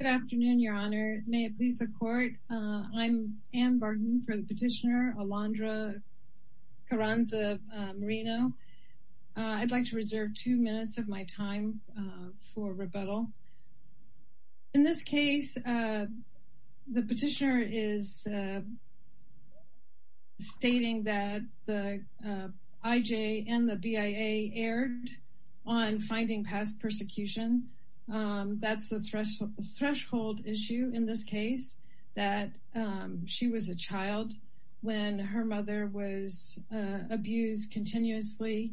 Good afternoon, Your Honor. May it please the court. I'm Anne Barton for the petitioner Alondra Carranza Moreno. I'd like to reserve two minutes of my time for rebuttal. In this case, the petitioner is stating that the IJ and the BIA erred on finding past persecution. That's the threshold issue in this case that she was a child when her mother was abused continuously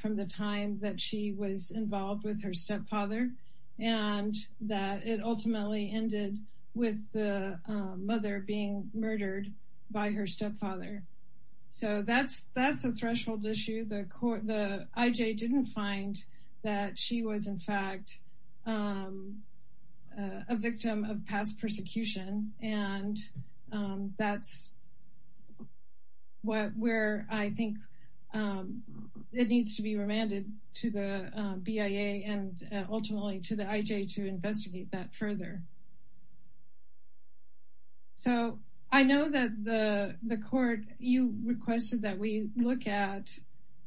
from the time that she was involved with her stepfather. And that it ultimately ended with the mother being murdered by her stepfather. So that's the threshold issue. The IJ didn't find that she was, in fact, a victim of past persecution. And that's where I think it needs to be remanded to the BIA and ultimately to the IJ to investigate that further. So I know that the court, you requested that we look at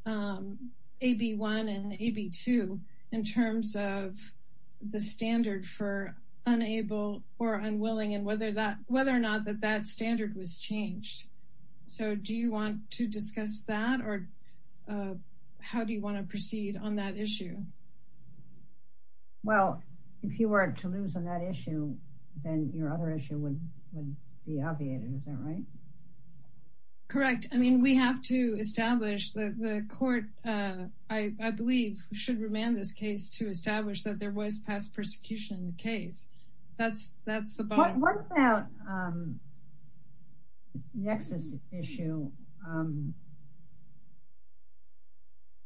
AB1 and AB2 in terms of the standard for unable or unwilling and whether or not that that standard was changed. So do you want to discuss that or how do you want to proceed on that issue? Well, if you were to lose on that issue, then your other issue would be obviated. Is that right? Correct. I mean, we have to establish that the court, I believe, should remand this case to establish that there was past persecution in the case. What about the nexus issue?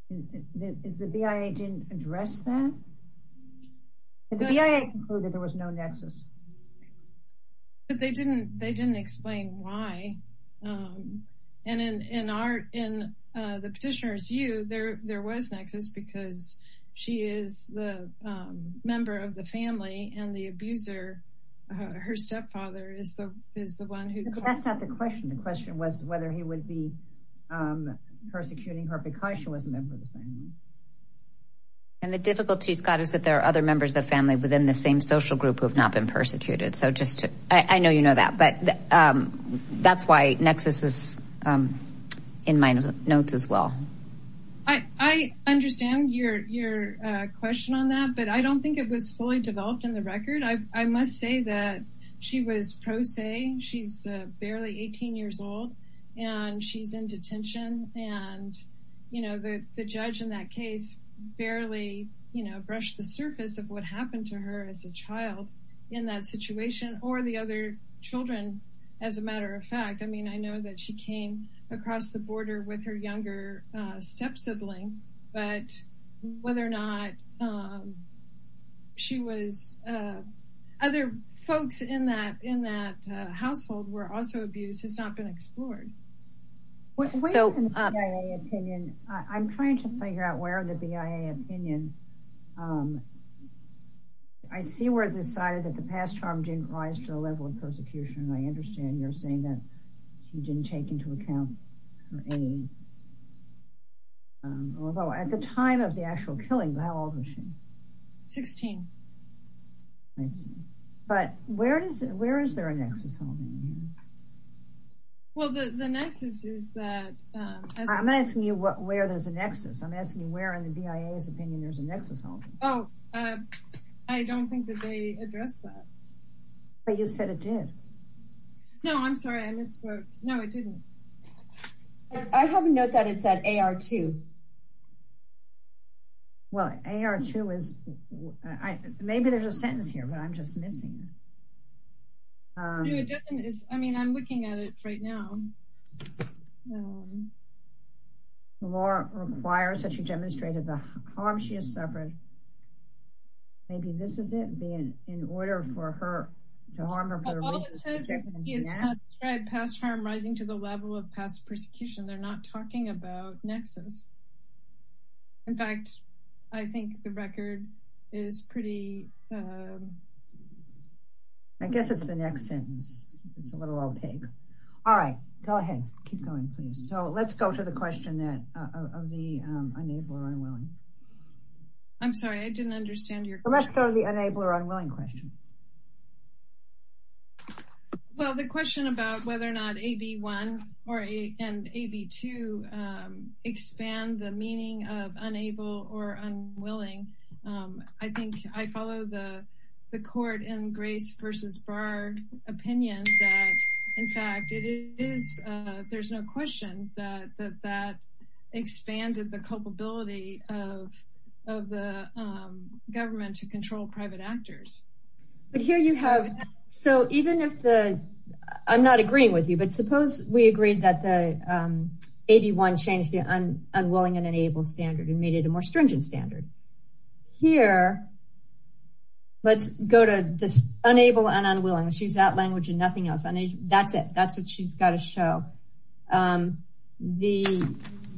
The BIA didn't address that? The BIA concluded there was no nexus. But they didn't explain why. And in the petitioner's view, there was nexus because she is the member of the family and the abuser, her stepfather, is the one who. That's not the question. The question was whether he would be persecuting her because she was a member of the family. And the difficulty, Scott, is that there are other members of the family within the same social group who have not been persecuted. So just I know you know that. But that's why nexus is in my notes as well. I understand your question on that, but I don't think it was fully developed in the record. I must say that she was pro se. She's barely 18 years old and she's in detention. And, you know, the judge in that case barely, you know, brushed the surface of what happened to her as a child in that situation or the other children. As a matter of fact, I mean, I know that she came across the border with her younger step sibling, but whether or not she was other folks in that in that household were also abused has not been explored. So I'm trying to figure out where the BIA opinion. I see where it decided that the past harm didn't rise to the level of persecution. I understand you're saying that you didn't take into account any. Although at the time of the actual killing, how old was she? Sixteen. But where is it? Where is there a nexus? Well, the nexus is that I'm asking you where there's a nexus. I'm asking you where in the BIA's opinion there's a nexus. Oh, I don't think that they address that. But you said it did. No, I'm sorry. I misquote. No, it didn't. I have a note that it said AR2. Well, AR2 is maybe there's a sentence here, but I'm just missing. I mean, I'm looking at it right now. The law requires that you demonstrated the harm she has suffered. Maybe this is it being in order for her to harm her. All it says is past harm rising to the level of past persecution. They're not talking about nexus. In fact, I think the record is pretty. I guess it's the next sentence. It's a little opaque. All right, go ahead. Keep going, please. So let's go to the question that of the unable or unwilling. I'm sorry, I didn't understand your question. Let's go to the unable or unwilling question. Well, the question about whether or not AB1 and AB2 expand the meaning of unable or unwilling. I think I follow the court in Grace versus Barr opinion. In fact, it is. There's no question that that expanded the culpability of the government to control private actors. But here you have. So even if the I'm not agreeing with you, but suppose we agreed that the AB1 changed the unwilling and unable standard and made it a more stringent standard. Here, let's go to this unable and unwilling. She's out language and nothing else. That's it. That's what she's got to show the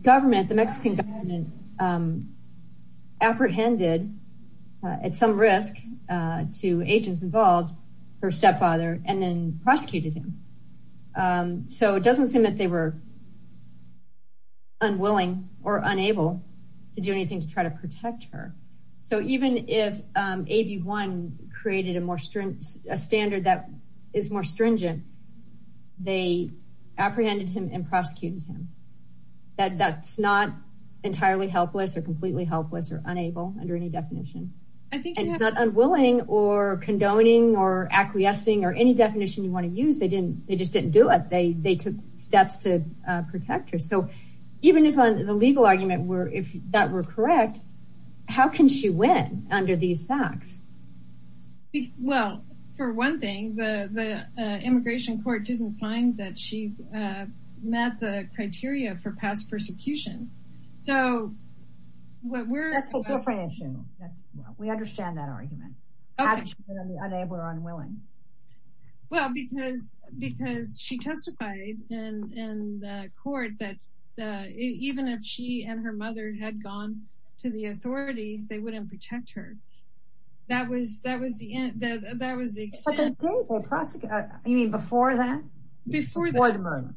government. The Mexican government apprehended at some risk to agents involved her stepfather and then prosecuted him. So it doesn't seem that they were unwilling or unable to do anything to try to protect her. So even if AB1 created a more stringent standard that is more stringent, they apprehended him and prosecuted him. That's not entirely helpless or completely helpless or unable under any definition. I think it's not unwilling or condoning or acquiescing or any definition you want to use. They didn't they just didn't do it. They they took steps to protect her. So even if the legal argument were if that were correct, how can she win under these facts? Well, for one thing, the immigration court didn't find that she met the criteria for past persecution. That's a different issue. We understand that argument. How can she be unable or unwilling? Well, because because she testified in the court that even if she and her mother had gone to the authorities, they wouldn't protect her. That was that was the end. That was the extent. You mean before that? Before the murder?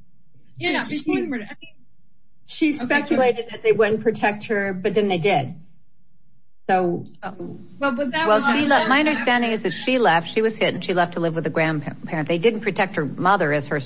She speculated that they wouldn't protect her, but then they did. So my understanding is that she left, she was hit and she left to live with a grandparent. They didn't protect her mother as her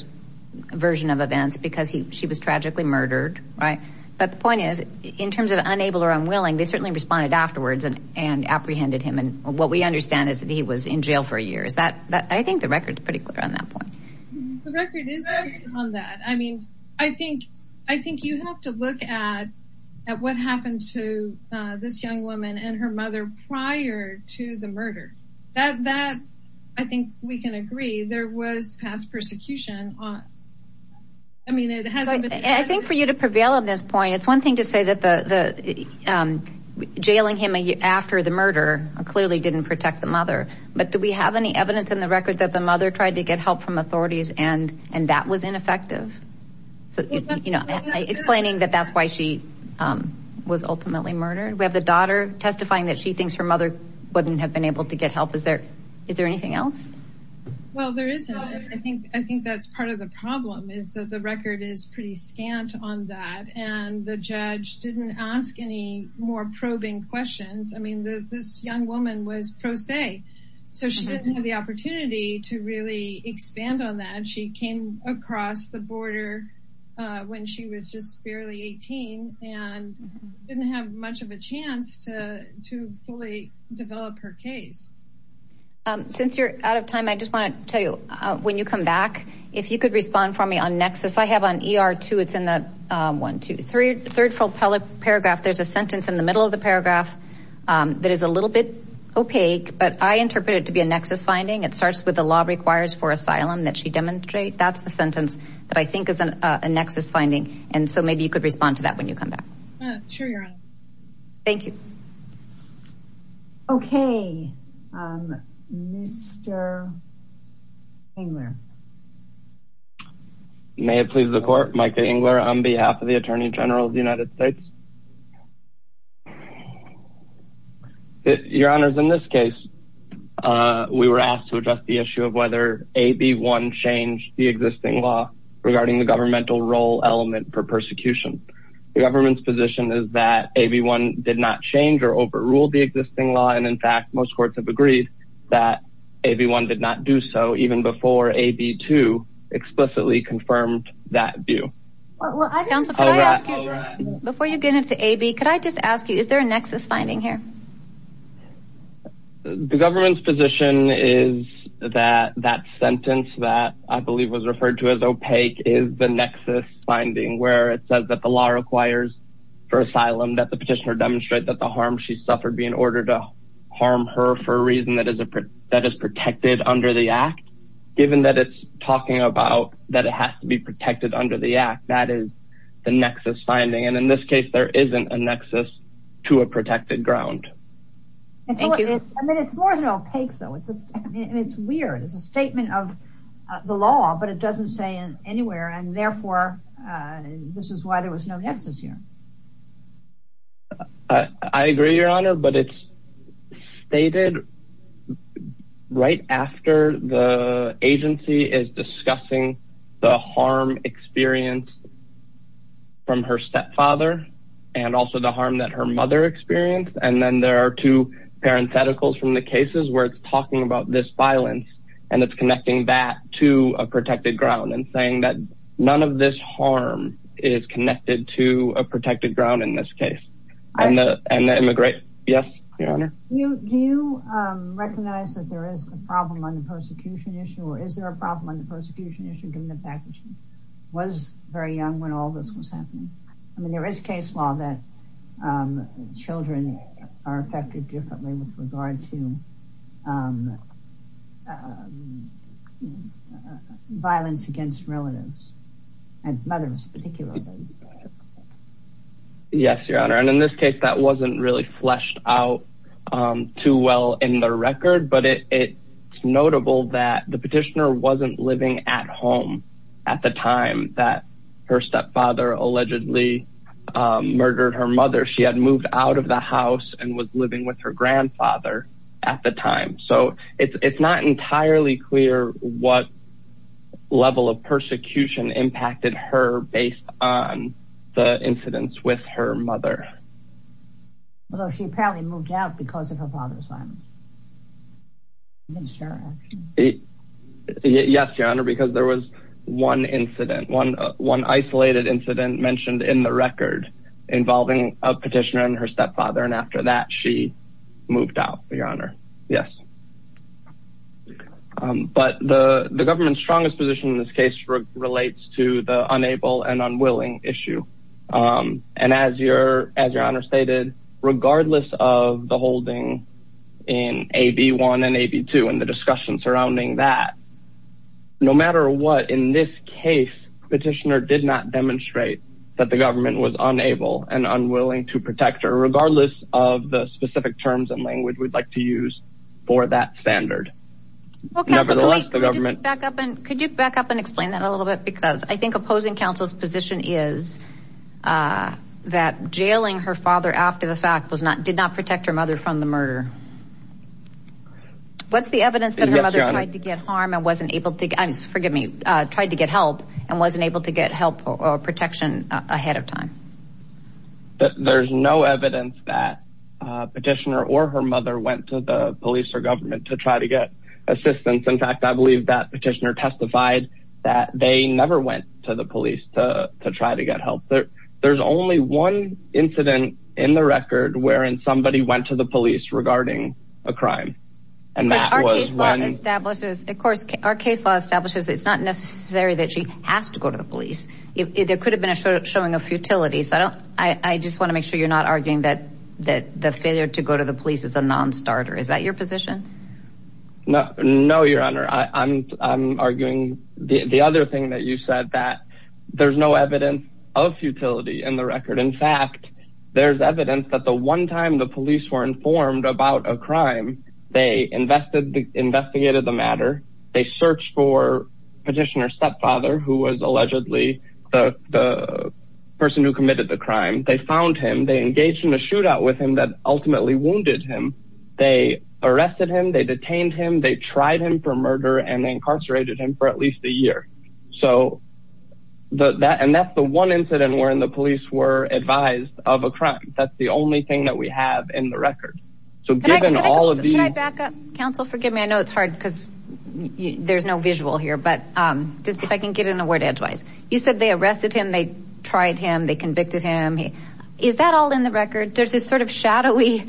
version of events because she was tragically murdered. Right. But the point is, in terms of unable or unwilling, they certainly responded afterwards and apprehended him. And what we understand is that he was in jail for a year. Is that I think the record is pretty clear on that point. The record is on that. I mean, I think I think you have to look at at what happened to this young woman and her mother prior to the murder. That that I think we can agree there was past persecution. I mean, it hasn't I think for you to prevail on this point, it's one thing to say that the jailing him after the murder clearly didn't protect the mother. But do we have any evidence in the record that the mother tried to get help from authorities and and that was ineffective? So, you know, explaining that that's why she was ultimately murdered. We have the daughter testifying that she thinks her mother wouldn't have been able to get help. Is there is there anything else? Well, there is. I think I think that's part of the problem is that the record is pretty scant on that. And the judge didn't ask any more probing questions. I mean, this young woman was pro se, so she didn't have the opportunity to really expand on that. And she came across the border when she was just barely 18 and didn't have much of a chance to to fully develop her case. Since you're out of time, I just want to tell you when you come back, if you could respond for me on Nexus. Yes, I have on our two. It's in the one, two, three, third full paragraph. There's a sentence in the middle of the paragraph that is a little bit opaque, but I interpret it to be a nexus finding. It starts with the law requires for asylum that she demonstrate. That's the sentence that I think is a nexus finding. And so maybe you could respond to that when you come back. Thank you. OK, Mr. Engler. May it please the court, Micah Engler, on behalf of the attorney general of the United States. Your honor, in this case, we were asked to address the issue of whether a B1 changed the existing law regarding the governmental role element for persecution. The government's position is that a B1 did not change or overrule the existing law. And in fact, most courts have agreed that a B1 did not do so even before a B2 explicitly confirmed that view. Before you get into a B, could I just ask you, is there a nexus finding here? The government's position is that that sentence that I believe was referred to as opaque is the nexus finding where it says that the law requires for asylum, that the petitioner demonstrate that the harm she suffered be in order to harm her for a reason that is that is protected under the act. Given that it's talking about that, it has to be protected under the act. That is the nexus finding. And in this case, there isn't a nexus to a protected ground. I mean, it's more than opaque, though. It's just it's weird. It's a statement of the law, but it doesn't say anywhere. And therefore, this is why there was no nexus here. I agree, Your Honor, but it's stated right after the agency is discussing the harm experienced from her stepfather and also the harm that her mother experienced. And then there are two parentheticals from the cases where it's talking about this violence and it's connecting that to a protected ground and saying that none of this harm is connected to a protected ground in this case. And the immigration. Yes, Your Honor. Do you recognize that there is a problem on the persecution issue? Or is there a problem on the persecution issue given the fact that she was very young when all this was happening? I mean, there is case law that children are affected differently with regard to. Violence against relatives and mothers, particularly. Yes, Your Honor. And in this case, that wasn't really fleshed out too well in the record. But it's notable that the petitioner wasn't living at home at the time that her stepfather allegedly murdered her mother. She had moved out of the house and was living with her grandfather at the time. So it's not entirely clear what level of persecution impacted her based on the incidents with her mother. Although she apparently moved out because of her father's violence. Yes, Your Honor, because there was one incident, one isolated incident mentioned in the record involving a petitioner and her stepfather. And after that, she moved out, Your Honor. Yes. But the government's strongest position in this case relates to the unable and unwilling issue. And as Your Honor stated, regardless of the holding in AB1 and AB2 and the discussion surrounding that. No matter what, in this case, petitioner did not demonstrate that the government was unable and unwilling to protect her. Regardless of the specific terms and language we'd like to use for that standard. Nevertheless, the government. Could you back up and explain that a little bit? Because I think opposing counsel's position is that jailing her father after the fact did not protect her mother from the murder. What's the evidence that her mother tried to get help and wasn't able to get help or protection ahead of time? There's no evidence that petitioner or her mother went to the police or government to try to get assistance. In fact, I believe that petitioner testified that they never went to the police to try to get help. There's only one incident in the record wherein somebody went to the police regarding a crime. And that was one. Of course, our case law establishes it's not necessary that she has to go to the police. There could have been a showing of futility. I just want to make sure you're not arguing that the failure to go to the police is a non-starter. Is that your position? No, your honor. I'm arguing the other thing that you said that there's no evidence of futility in the record. In fact, there's evidence that the one time the police were informed about a crime, they investigated the matter. They searched for petitioner's stepfather who was allegedly the person who committed the crime. They found him. They engaged in a shootout with him that ultimately wounded him. They arrested him. They detained him. They tried him for murder and incarcerated him for at least a year. And that's the one incident wherein the police were advised of a crime. That's the only thing that we have in the record. Can I back up? Counsel, forgive me. I know it's hard because there's no visual here. But if I can get in a word edgewise. You said they arrested him. They tried him. They convicted him. Is that all in the record? There's this sort of shadowy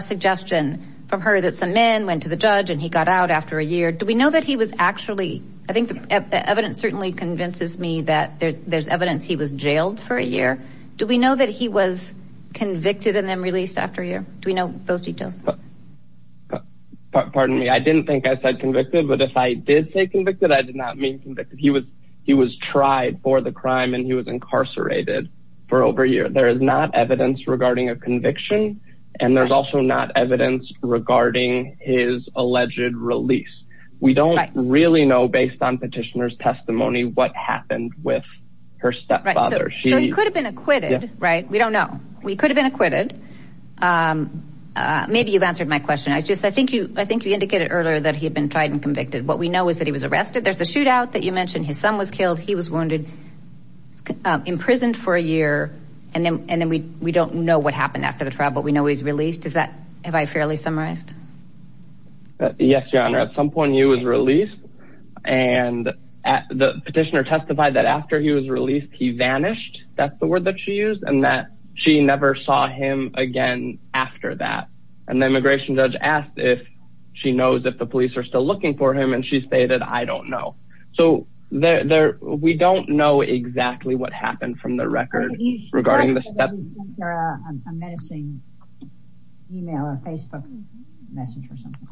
suggestion from her that some men went to the judge and he got out after a year. Do we know that he was actually – I think the evidence certainly convinces me that there's evidence he was jailed for a year. Do we know that he was convicted and then released after a year? Do we know those details? Pardon me. I didn't think I said convicted. But if I did say convicted, I did not mean convicted. He was tried for the crime and he was incarcerated for over a year. There is not evidence regarding a conviction. And there's also not evidence regarding his alleged release. We don't really know based on petitioner's testimony what happened with her stepfather. So he could have been acquitted, right? We don't know. We could have been acquitted. Maybe you've answered my question. I think you indicated earlier that he had been tried and convicted. What we know is that he was arrested. There's the shootout that you mentioned. His son was killed. He was wounded. Imprisoned for a year. And then we don't know what happened after the trial, but we know he was released. Is that – have I fairly summarized? Yes, Your Honor. At some point, he was released. And the petitioner testified that after he was released, he vanished. That's the word that she used. And that she never saw him again after that. And the immigration judge asked if she knows if the police are still looking for him, and she stated, I don't know. So we don't know exactly what happened from the record regarding the stepfather. Are you suggesting that he sent her a menacing email or Facebook message or something?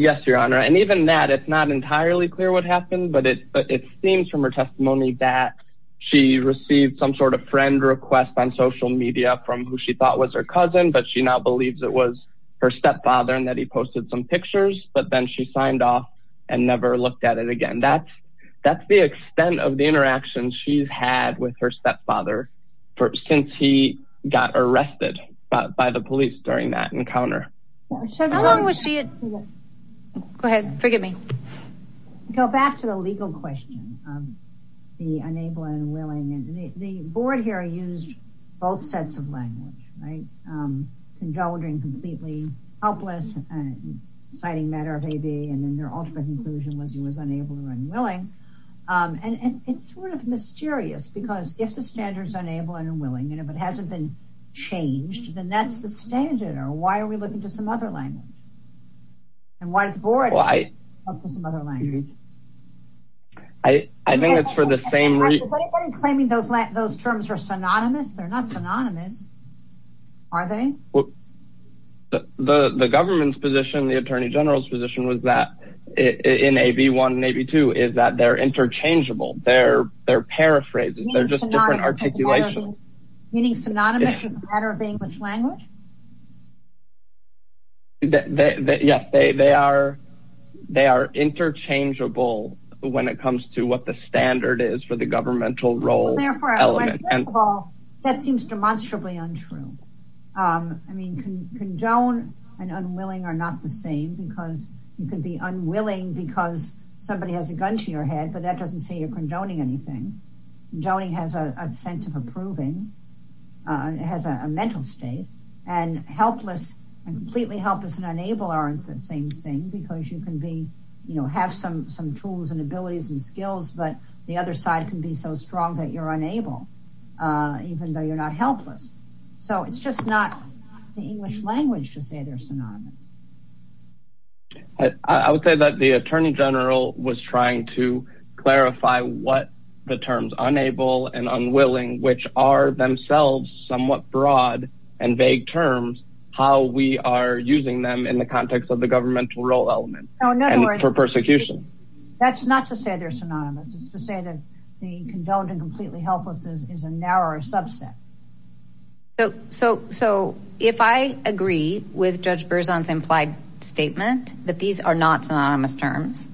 Yes, Your Honor. And even that, it's not entirely clear what happened. But it seems from her testimony that she received some sort of friend request on social media from who she thought was her cousin, but she now believes it was her stepfather and that he posted some pictures. But then she signed off and never looked at it again. That's the extent of the interaction she's had with her stepfather since he got arrested by the police during that encounter. How long was she at – go ahead. Forgive me. Go back to the legal question of the unable and unwilling. The board here used both sets of language, right, condoning completely helpless and citing matter of ABA and then their ultimate conclusion was he was unable or unwilling. And it's sort of mysterious because if the standard is unable and unwilling and if it hasn't been changed, then that's the standard. Or why are we looking to some other language? And why does the board look to some other language? I think it's for the same reason. Is anybody claiming those terms are synonymous? They're not synonymous, are they? The government's position, the attorney general's position was that in AB1 and AB2 is that they're interchangeable. They're paraphrases. They're just different articulations. Meaning synonymous is a matter of the English language? Yes, they are interchangeable when it comes to what the standard is for the governmental role element. Well, first of all, that seems demonstrably untrue. I mean, condone and unwilling are not the same because you can be unwilling because somebody has a gun to your head, but that doesn't say you're condoning anything. Doning has a sense of approving. It has a mental state. And helpless and completely helpless and unable aren't the same thing because you can have some tools and abilities and skills, but the other side can be so strong that you're unable, even though you're not helpless. So it's just not the English language to say they're synonymous. I would say that the attorney general was trying to clarify what the terms unable and unwilling, which are themselves somewhat broad and vague terms, how we are using them in the context of the governmental role element and for persecution. That's not to say they're synonymous. It's to say that the condoned and completely helpless is a narrower subset. So if I agree with Judge Berzon's implied statement that these are not synonymous terms,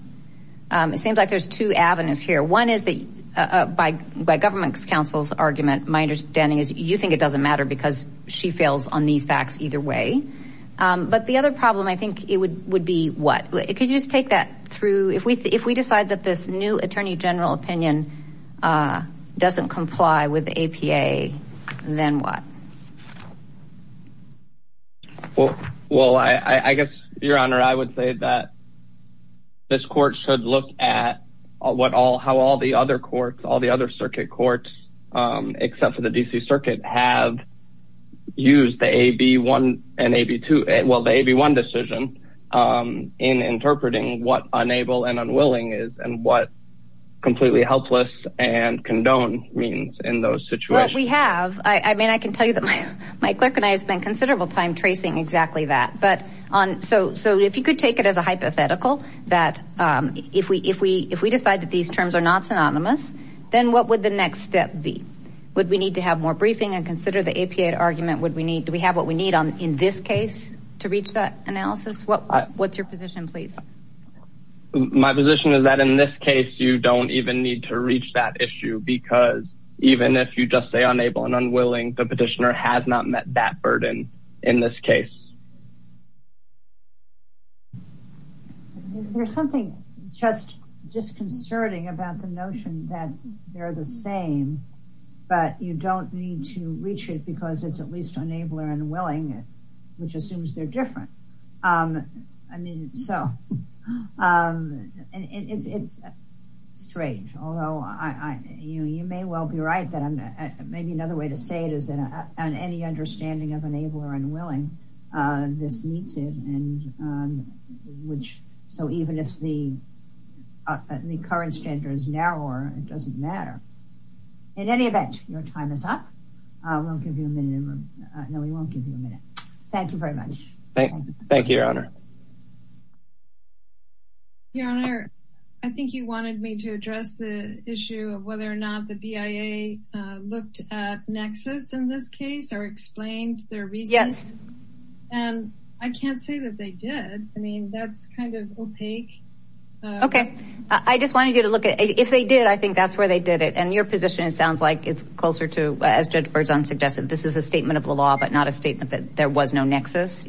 it seems like there's two avenues here. One is by government counsel's argument, my understanding is you think it doesn't matter because she fails on these facts either way. But the other problem I think would be what? Could you just take that through? If we decide that this new attorney general opinion doesn't comply with APA, then what? Well, I guess, Your Honor, I would say that this court should look at how all the other courts, all the other circuit courts, except for the D.C. Circuit, have used the AB1 decision in interpreting what unable and unwilling is and what completely helpless and condoned means in those situations. Well, we have. I mean, I can tell you that my clerk and I have spent considerable time tracing exactly that. So if you could take it as a hypothetical that if we decide that these terms are not synonymous, then what would the next step be? Would we need to have more briefing and consider the APA argument? Do we have what we need in this case to reach that analysis? What's your position, please? My position is that in this case, you don't even need to reach that issue, because even if you just say unable and unwilling, the petitioner has not met that burden in this case. There's something just disconcerting about the notion that they're the same, but you don't need to reach it because it's at least unable and unwilling, which assumes they're different. I mean, so it's strange. Although you may well be right that maybe another way to say it is that on any understanding of unable or unwilling, this meets it. So even if the current standard is narrower, it doesn't matter. In any event, your time is up. We won't give you a minute. Thank you very much. Thank you, Your Honor. Your Honor, I think you wanted me to address the issue of whether or not the BIA looked at nexus in this case or explained their reasons. Yes. And I can't say that they did. I mean, that's kind of opaque. Okay. I just wanted you to look at it. If they did, I think that's where they did it. And your position sounds like it's closer to, as Judge Berzon suggested, this is a statement of the law, but not a statement that there was no nexus.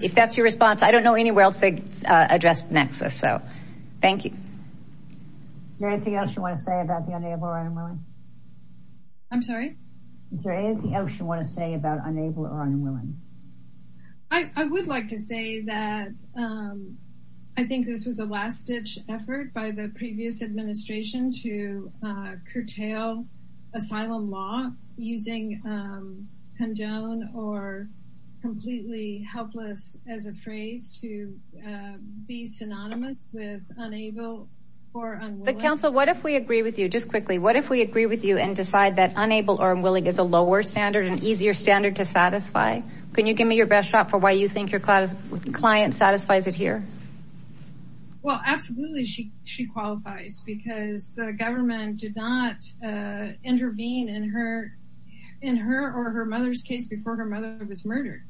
If that's your response, I don't know anywhere else they addressed nexus. So thank you. Is there anything else you want to say about the unable or unwilling? I'm sorry? Is there anything else you want to say about unable or unwilling? I would like to say that I think this was a last ditch effort by the asylum law using conjoined or completely helpless as a phrase to be synonymous with unable or unwilling. But counsel, what if we agree with you? Just quickly, what if we agree with you and decide that unable or unwilling is a lower standard and easier standard to satisfy? Can you give me your best shot for why you think your client satisfies it here? Well, absolutely. I think that she qualifies because the government did not intervene in her or her mother's case before her mother was murdered.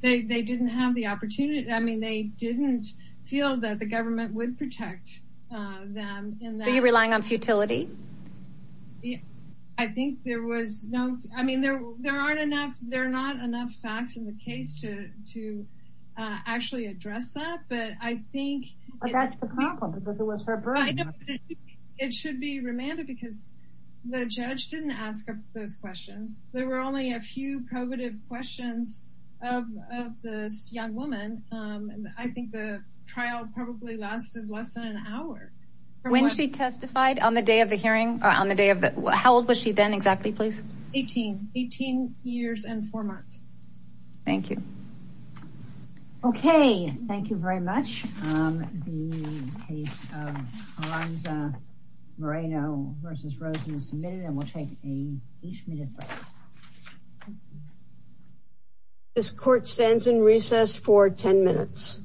They didn't have the opportunity. I mean, they didn't feel that the government would protect them. Are you relying on futility? I think there was no, I mean, there aren't enough, there are not enough facts in the case to actually address that. But I think it should be remanded because the judge didn't ask those questions. There were only a few probative questions of this young woman. And I think the trial probably lasted less than an hour. When she testified on the day of the hearing or on the day of the, how old was she then exactly? Please. 18, 18 years and four months. Thank you. Okay. Thank you very much. The case of Lorenzo Moreno versus Rosen submitted and we'll take a each minute break. This court stands in recess for 10 minutes.